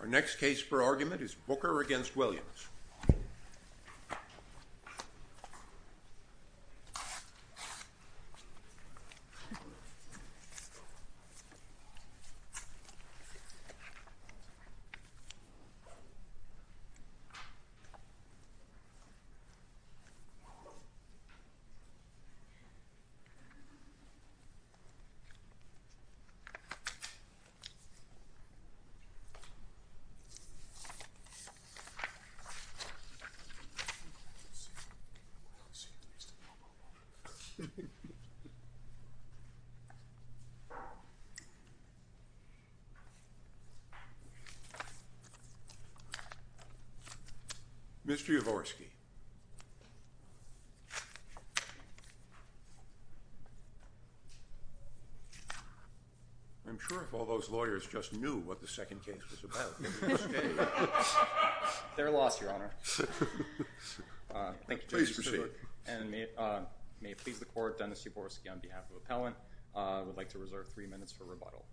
Our next case for argument is Booker v. Williams. Mr. Yavorsky I'm sure if all those lawyers just knew what the second case was about, they would have stayed. They're lost, Your Honor. Please proceed. And may it please the Court, Dennis Yavorsky on behalf of Appellant would like to reserve three minutes for rebuttal.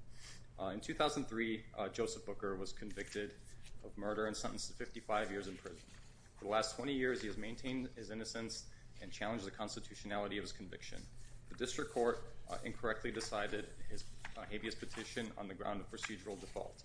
In 2003, Joseph Booker was convicted of murder and sentenced to 55 years in prison. For the last 20 years, he has maintained his innocence and challenged the constitutionality of his conviction. The district court incorrectly decided his habeas petition on the ground of procedural default.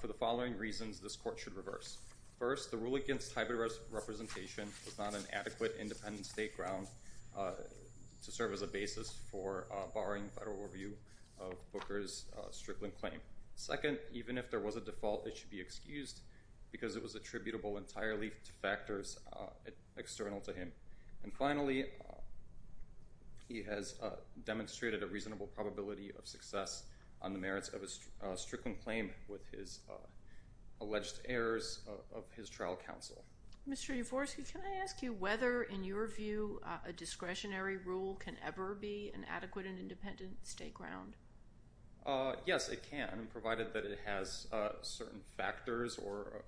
For the following reasons, this court should reverse. First, the rule against hybrid representation was not an adequate independent state ground to serve as a basis for barring federal review of Booker's stripling claim. Second, even if there was a default, it should be excused because it was attributable entirely to factors external to him. And finally, he has demonstrated a reasonable probability of success on the merits of his stripling claim with his alleged errors of his trial counsel. Mr. Yavorsky, can I ask you whether, in your view, a discretionary rule can ever be an adequate and independent state ground? Yes, it can, provided that it has certain factors or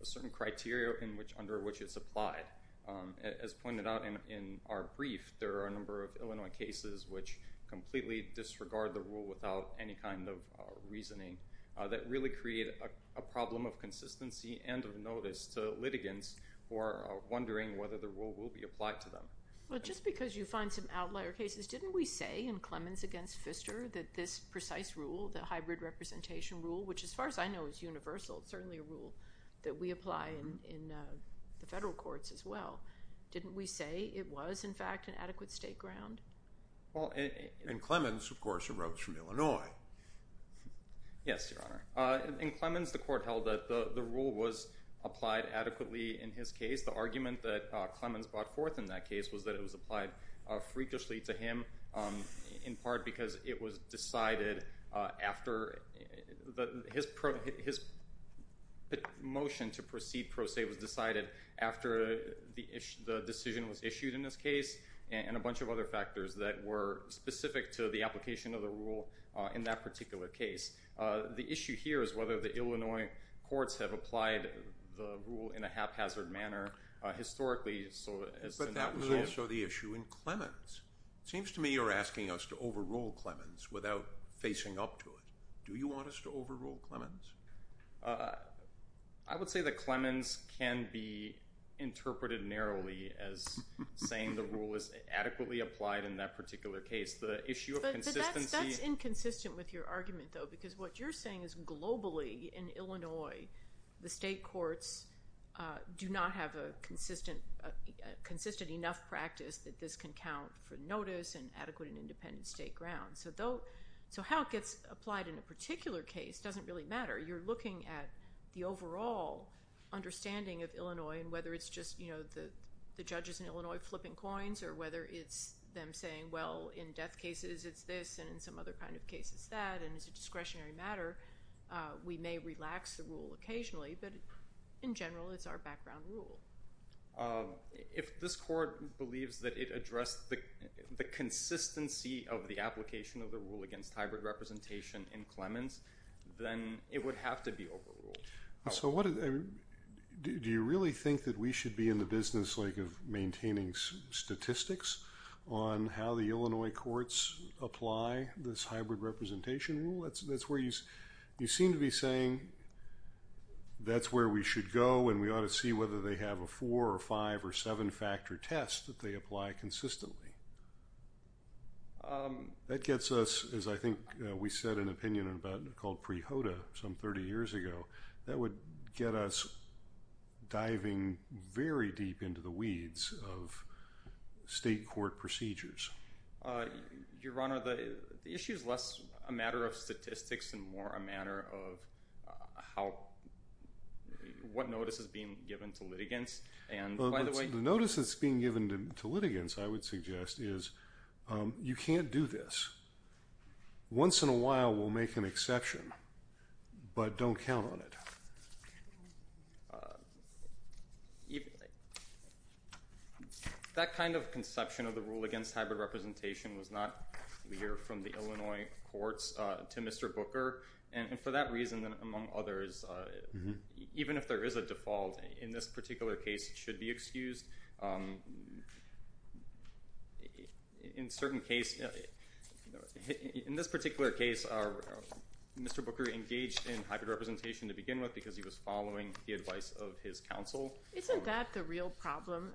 a certain criteria under which it's applied. As pointed out in our brief, there are a number of Illinois cases which completely disregard the rule without any kind of reasoning that really create a problem of consistency and of notice to litigants who are wondering whether the rule will be applied to them. Well, just because you find some outlier cases, didn't we say in Clemens v. Pfister that this precise rule, the hybrid representation rule, which as far as I know is universal, it's certainly a rule that we apply in the federal courts as well, didn't we say it was, in fact, an adequate state ground? Well, in Clemens, of course, it erodes from Illinois. Yes, Your Honor. In Clemens, the court held that the rule was applied adequately in his case. The argument that Clemens brought forth in that case was that it was applied freakishly to him, in part because it was decided after his motion to proceed pro se was decided after the decision was issued in this case and a bunch of other factors that were specific to the application of the rule in that particular case. The issue here is whether the Illinois courts have applied the rule in a haphazard manner historically. But that was also the issue in Clemens. It seems to me you're asking us to overrule Clemens without facing up to it. Do you want us to overrule Clemens? I would say that Clemens can be interpreted narrowly as saying the rule is adequately applied in that particular case. That's inconsistent with your argument, though, because what you're saying is globally in Illinois, the state courts do not have a consistent enough practice that this can count for notice and adequate and independent state grounds. So how it gets applied in a particular case doesn't really matter. You're looking at the overall understanding of Illinois and whether it's just the judges in Illinois flipping coins or whether it's them saying, well, in death cases it's this and in some other kind of cases that, and it's a discretionary matter, we may relax the rule occasionally. But in general, it's our background rule. If this court believes that it addressed the consistency of the application of the rule against hybrid representation in Clemens, then it would have to be overruled. Do you really think that we should be in the business of maintaining statistics on how the Illinois courts apply this hybrid representation rule? You seem to be saying that's where we should go and we ought to see whether they have a four- or five- or seven-factor test that they apply consistently. That gets us, as I think we said in an opinion called pre-HODA some 30 years ago, that would get us diving very deep into the weeds of state court procedures. Your Honor, the issue is less a matter of statistics and more a matter of what notice is being given to litigants. The notice that's being given to litigants, I would suggest, is you can't do this. Once in a while we'll make an exception, but don't count on it. That kind of conception of the rule against hybrid representation was not clear from the Illinois courts to Mr. Booker. For that reason, among others, even if there is a default in this particular case, it should be excused. In this particular case, Mr. Booker engaged in hybrid representation to begin with because he was following the advice of his counsel. Isn't that the real problem?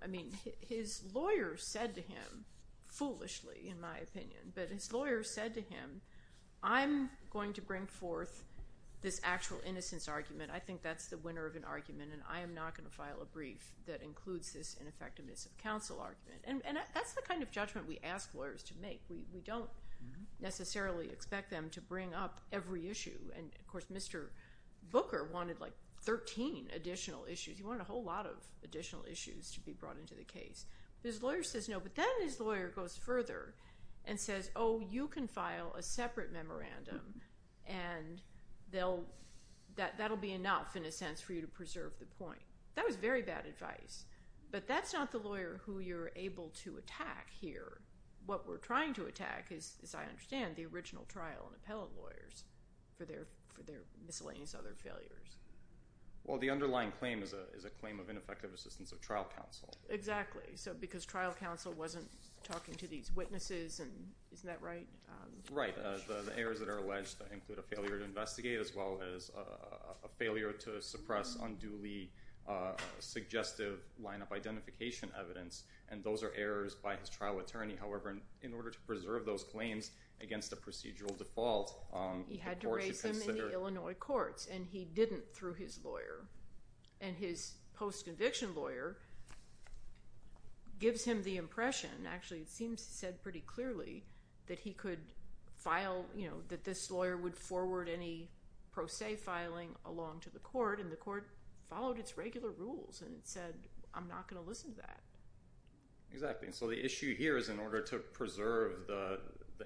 His lawyer said to him, foolishly in my opinion, but his lawyer said to him, I'm going to bring forth this actual innocence argument. I think that's the winner of an argument, and I am not going to file a brief that includes this ineffectiveness of counsel argument. That's the kind of judgment we ask lawyers to make. We don't necessarily expect them to bring up every issue. Of course, Mr. Booker wanted 13 additional issues. He wanted a whole lot of additional issues to be brought into the case. His lawyer says no, but then his lawyer goes further and says, oh, you can file a separate memorandum, and that will be enough, in a sense, for you to preserve the point. That was very bad advice, but that's not the lawyer who you're able to attack here. What we're trying to attack is, as I understand, the original trial and appellate lawyers for their miscellaneous other failures. Well, the underlying claim is a claim of ineffective assistance of trial counsel. Exactly, because trial counsel wasn't talking to these witnesses, and isn't that right? Right. The errors that are alleged include a failure to investigate as well as a failure to suppress unduly suggestive line-up identification evidence, and those are errors by his trial attorney. However, in order to preserve those claims against a procedural default, the court should consider. And he didn't through his lawyer. And his post-conviction lawyer gives him the impression, actually it seems said pretty clearly, that he could file, you know, that this lawyer would forward any pro se filing along to the court, and the court followed its regular rules and said, I'm not going to listen to that. Exactly, and so the issue here is in order to preserve the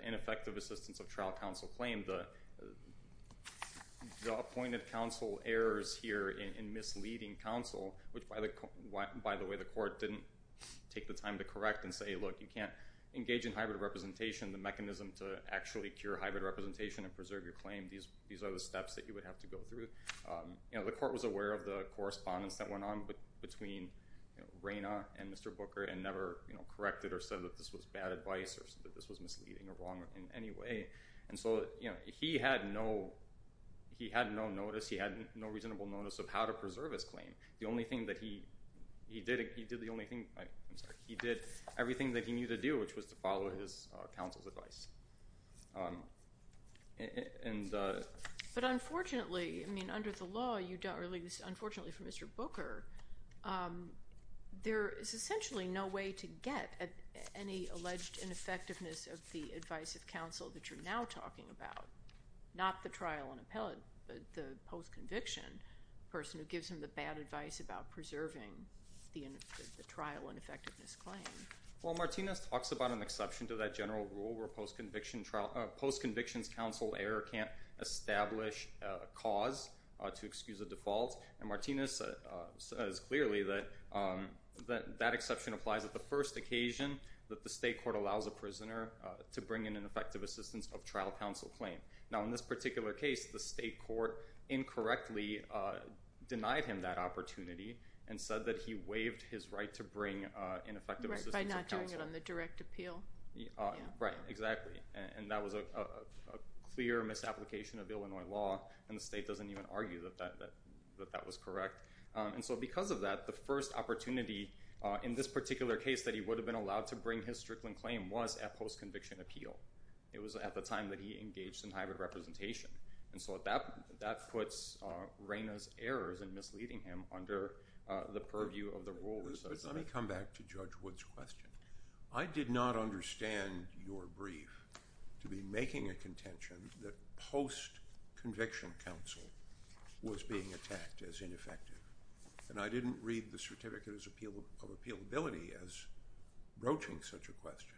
ineffective assistance of trial counsel claim, the appointed counsel errors here in misleading counsel, which, by the way, the court didn't take the time to correct and say, look, you can't engage in hybrid representation, the mechanism to actually cure hybrid representation and preserve your claim. These are the steps that you would have to go through. You know, the court was aware of the correspondence that went on between Raina and Mr. Booker and never corrected or said that this was bad advice or said that this was misleading or wrong in any way. And so, you know, he had no notice, he had no reasonable notice of how to preserve his claim. The only thing that he did, he did the only thing, I'm sorry, he did everything that he needed to do, which was to follow his counsel's advice. But unfortunately, I mean, under the law, you don't really, unfortunately for Mr. Booker, there is essentially no way to get at any alleged ineffectiveness of the advice of counsel that you're now talking about, not the trial and appellate, but the post-conviction person who gives him the bad advice about preserving the trial ineffectiveness claim. Well, Martinez talks about an exception to that general rule where post-conviction trial, post-conviction counsel error can't establish a cause to excuse a default. And Martinez says clearly that that exception applies at the first occasion that the state court allows a prisoner to bring in an effective assistance of trial counsel claim. Now, in this particular case, the state court incorrectly denied him that opportunity and said that he waived his right to bring in effective assistance of counsel. Right, by not doing it on the direct appeal. Right, exactly, and that was a clear misapplication of Illinois law, and the state doesn't even argue that that was correct. And so because of that, the first opportunity in this particular case that he would have been allowed to bring his Strickland claim was at post-conviction appeal. It was at the time that he engaged in hybrid representation, and so that puts Reyna's errors in misleading him under the purview of the rule. Let me come back to Judge Wood's question. I did not understand your brief to be making a contention that post-conviction counsel was being attacked as ineffective, and I didn't read the Certificate of Appealability as broaching such a question.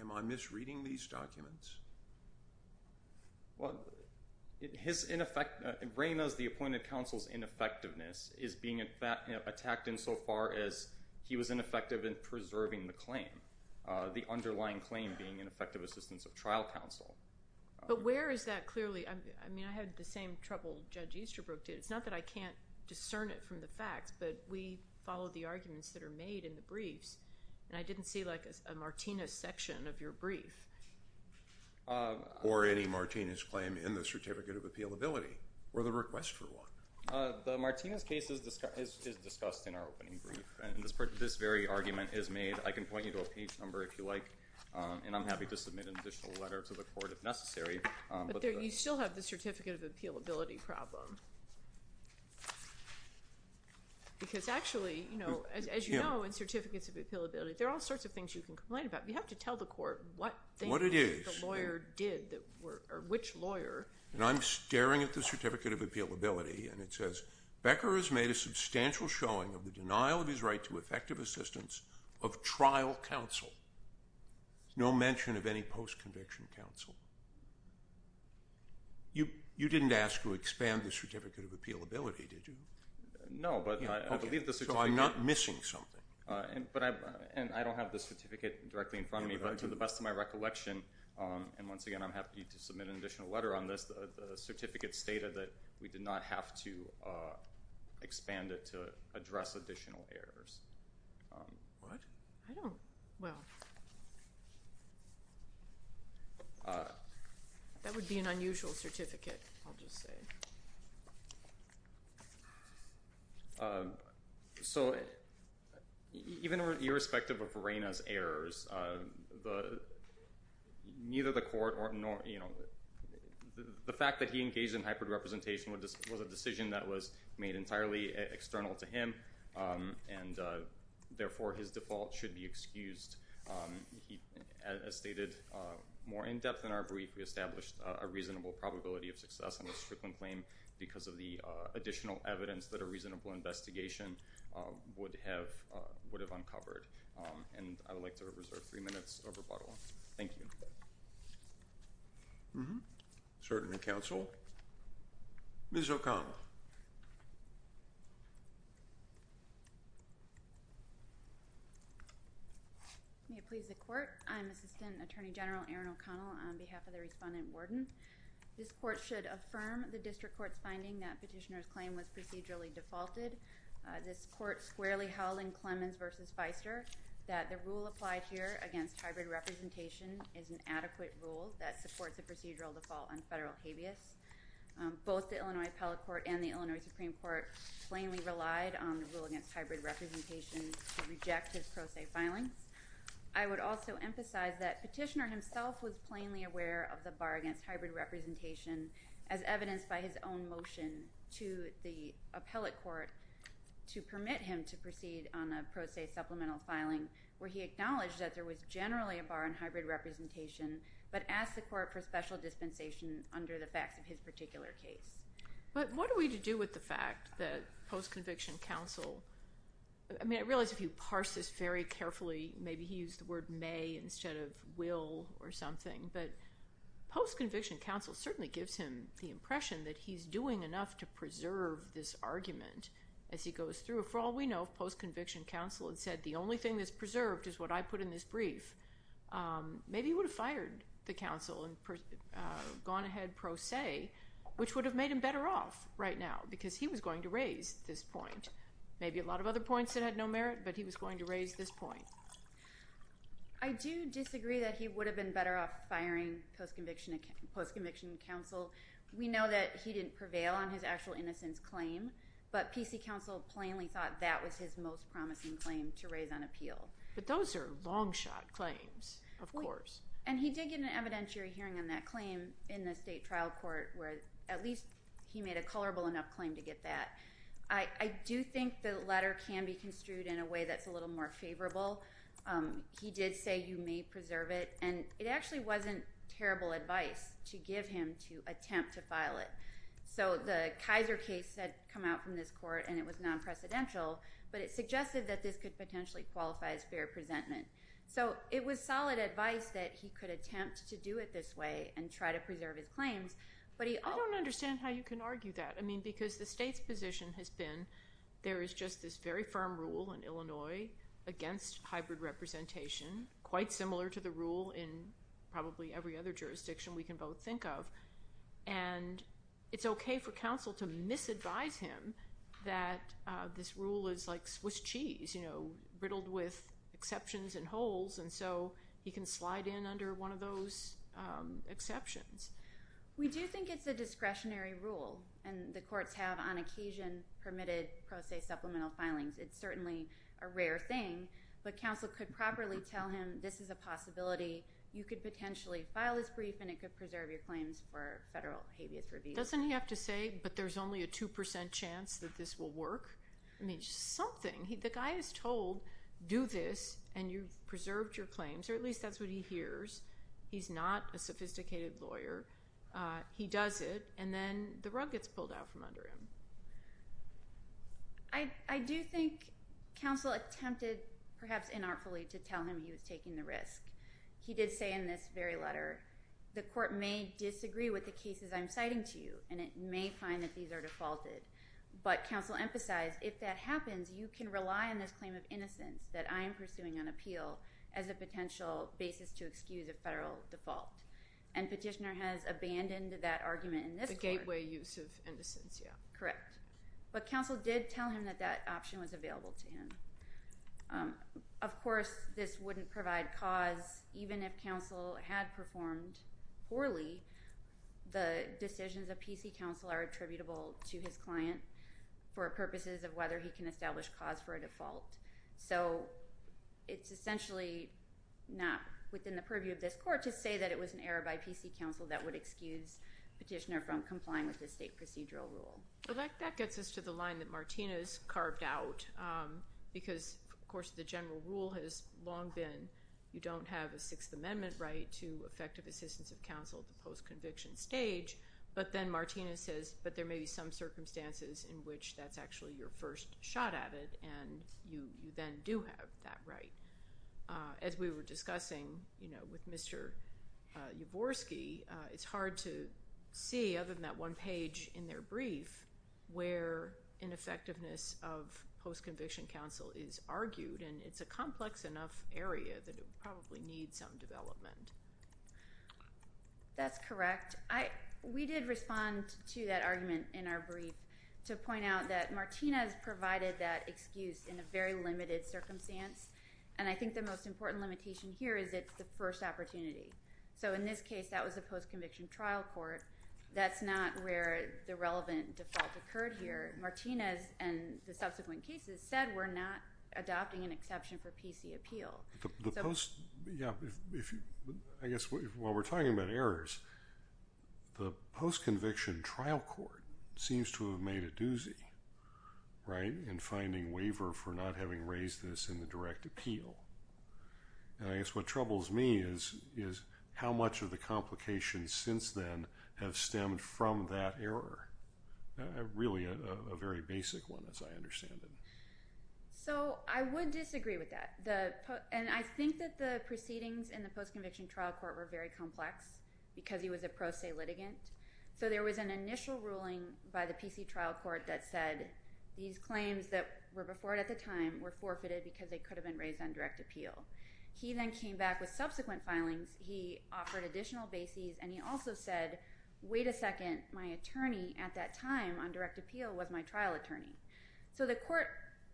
Am I misreading these documents? Well, Reyna's, the appointed counsel's, ineffectiveness is being attacked insofar as he was ineffective in preserving the claim, the underlying claim being ineffective assistance of trial counsel. But where is that clearly? I mean, I had the same trouble Judge Easterbrook did. It's not that I can't discern it from the facts, but we follow the arguments that are made in the briefs, and I didn't see, like, a Martinez section of your brief. Or any Martinez claim in the Certificate of Appealability, or the request for one. The Martinez case is discussed in our opening brief, and this very argument is made. I can point you to a page number if you like, and I'm happy to submit an additional letter to the court if necessary. But you still have the Certificate of Appealability problem, because actually, you know, as you know, in Certificates of Appealability, there are all sorts of things you can complain about. You have to tell the court what they think the lawyer did, or which lawyer. And I'm staring at the Certificate of Appealability, and it says, Becker has made a substantial showing of the denial of his right to effective assistance of trial counsel. No mention of any post-conviction counsel. You didn't ask to expand the Certificate of Appealability, did you? No, but I believe the Certificate. So I'm not missing something. And I don't have the Certificate directly in front of me, but to the best of my recollection, and once again I'm happy to submit an additional letter on this, the Certificate stated that we did not have to expand it to address additional errors. What? I don't, well, that would be an unusual certificate, I'll just say. So even irrespective of Verena's errors, neither the court or, you know, the fact that he engaged in hybrid representation was a decision that was made entirely external to him, and therefore his default should be excused. As stated more in-depth in our brief, we established a reasonable probability of success on this Strickland claim because of the additional evidence that a reasonable investigation would have uncovered. And I would like to reserve three minutes of rebuttal. Thank you. Mm-hmm. Certainly, Counsel. Ms. O'Connell. May it please the Court. I'm Assistant Attorney General Erin O'Connell on behalf of the Respondent-Warden. This Court should affirm the District Court's finding that Petitioner's claim was procedurally defaulted. This Court squarely held in Clemens v. Feister that the rule applied here against hybrid representation is an adequate rule that supports a procedural default on federal habeas. Both the Illinois Appellate Court and the Illinois Supreme Court plainly relied on the rule against hybrid representation to reject his pro se filings. I would also emphasize that Petitioner himself was plainly aware of the bar against hybrid representation as evidenced by his own motion to the Appellate Court to permit him to proceed on a pro se supplemental filing, where he acknowledged that there was generally a bar on hybrid representation but asked the Court for special dispensation under the facts of his particular case. But what are we to do with the fact that post-conviction counsel I mean, I realize if you parse this very carefully, maybe he used the word may instead of will or something, but post-conviction counsel certainly gives him the impression that he's doing enough to preserve this argument as he goes through. However, for all we know, if post-conviction counsel had said the only thing that's preserved is what I put in this brief, maybe he would have fired the counsel and gone ahead pro se, which would have made him better off right now because he was going to raise this point. Maybe a lot of other points that had no merit, but he was going to raise this point. I do disagree that he would have been better off firing post-conviction counsel. We know that he didn't prevail on his actual innocence claim, but PC counsel plainly thought that was his most promising claim to raise on appeal. But those are long shot claims, of course. And he did get an evidentiary hearing on that claim in the state trial court, where at least he made a colorable enough claim to get that. I do think the letter can be construed in a way that's a little more favorable. He did say you may preserve it, and it actually wasn't terrible advice to give him to attempt to file it. So the Kaiser case had come out from this court, and it was non-precedential, but it suggested that this could potentially qualify as fair presentment. So it was solid advice that he could attempt to do it this way and try to preserve his claims. I don't understand how you can argue that because the state's position has been there is just this very firm rule in Illinois against hybrid representation, quite similar to the rule in probably every other jurisdiction we can both think of. And it's okay for counsel to misadvise him that this rule is like Swiss cheese, you know, riddled with exceptions and holes. And so he can slide in under one of those exceptions. We do think it's a discretionary rule, and the courts have, on occasion, permitted pro se supplemental filings. It's certainly a rare thing, but counsel could properly tell him this is a possibility. You could potentially file this brief, and it could preserve your claims for federal habeas review. Doesn't he have to say, but there's only a 2% chance that this will work? I mean, something. The guy is told, do this, and you've preserved your claims, or at least that's what he hears. He's not a sophisticated lawyer. He does it, and then the rug gets pulled out from under him. I do think counsel attempted, perhaps inartfully, to tell him he was taking the risk. He did say in this very letter, the court may disagree with the cases I'm citing to you, and it may find that these are defaulted. But counsel emphasized, if that happens, you can rely on this claim of innocence that I am pursuing on appeal as a potential basis to excuse a federal default. And petitioner has abandoned that argument in this court. The gateway use of innocence, yeah. Correct. But counsel did tell him that that option was available to him. Of course, this wouldn't provide cause. Even if counsel had performed poorly, the decisions of PC counsel are attributable to his client for purposes of whether he can establish cause for a default. So it's essentially not within the purview of this court to say that it was an error by PC counsel that would excuse petitioner from complying with the state procedural rule. But that gets us to the line that Martina's carved out because, of course, the general rule has long been you don't have a Sixth Amendment right to effective assistance of counsel at the post-conviction stage. But then Martina says, but there may be some circumstances in which that's actually your first shot at it and you then do have that right. As we were discussing with Mr. Yavorsky, it's hard to see, other than that one page in their brief, where ineffectiveness of post-conviction counsel is argued. And it's a complex enough area that it would probably need some development. That's correct. We did respond to that argument in our brief to point out that Martina's provided that excuse in a very limited circumstance. And I think the most important limitation here is it's the first opportunity. So in this case, that was a post-conviction trial court. That's not where the relevant default occurred here. Martina's and the subsequent cases said we're not adopting an exception for PC appeal. I guess while we're talking about errors, the post-conviction trial court seems to have made a doozy in finding waiver for not having raised this in the direct appeal. And I guess what troubles me is how much of the complications since then have stemmed from that error, really a very basic one as I understand it. So I would disagree with that. And I think that the proceedings in the post-conviction trial court were very complex because he was a pro se litigant. So there was an initial ruling by the PC trial court that said these claims that were before it at the time were forfeited because they could have been raised on direct appeal. He then came back with subsequent filings. He offered additional bases. And he also said, wait a second, my attorney at that time on direct appeal was my trial attorney. So the court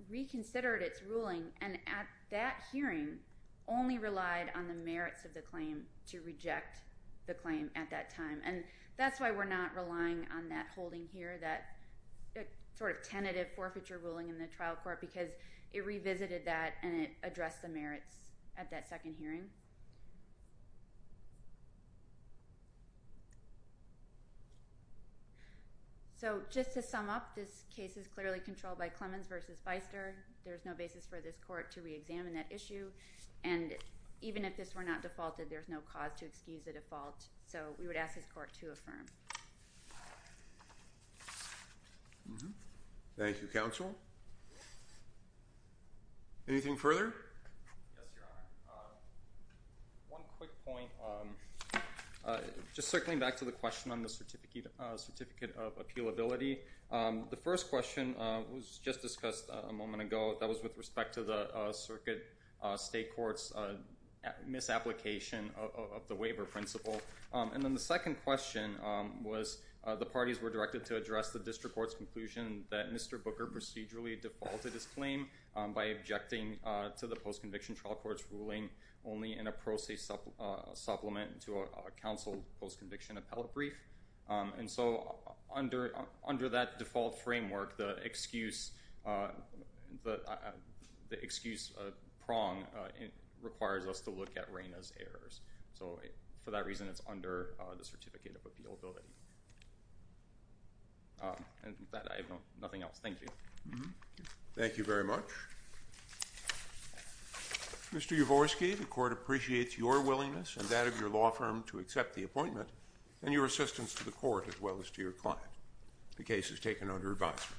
reconsidered its ruling and at that hearing only relied on the merits of the claim to reject the claim at that time. And that's why we're not relying on that holding here, that sort of tentative forfeiture ruling in the trial court because it revisited that and it addressed the merits at that second hearing. So just to sum up, this case is clearly controlled by Clemens versus Feister. There's no basis for this court to reexamine that issue. And even if this were not defaulted, there's no cause to excuse a default. So we would ask this court to affirm. Thank you, counsel. Anything further? Yes, Your Honor. One quick point. Just circling back to the question on the certificate of appealability. The first question was just discussed a moment ago. That was with respect to the circuit state court's misapplication of the waiver principle. And then the second question was the parties were directed to address the district court's conclusion that Mr. Booker procedurally defaulted his claim by objecting to the post-conviction trial court's ruling only in a pro se supplement to a counsel post-conviction appellate brief. And so under that default framework, the excuse prong requires us to look at Reyna's errors. So for that reason, it's under the certificate of appealability. And with that, I have nothing else. Thank you. Thank you very much. Mr. Yavorsky, the court appreciates your willingness and that of your law firm to accept the appointment and your assistance to the court as well as to your client. The case is taken under advisement.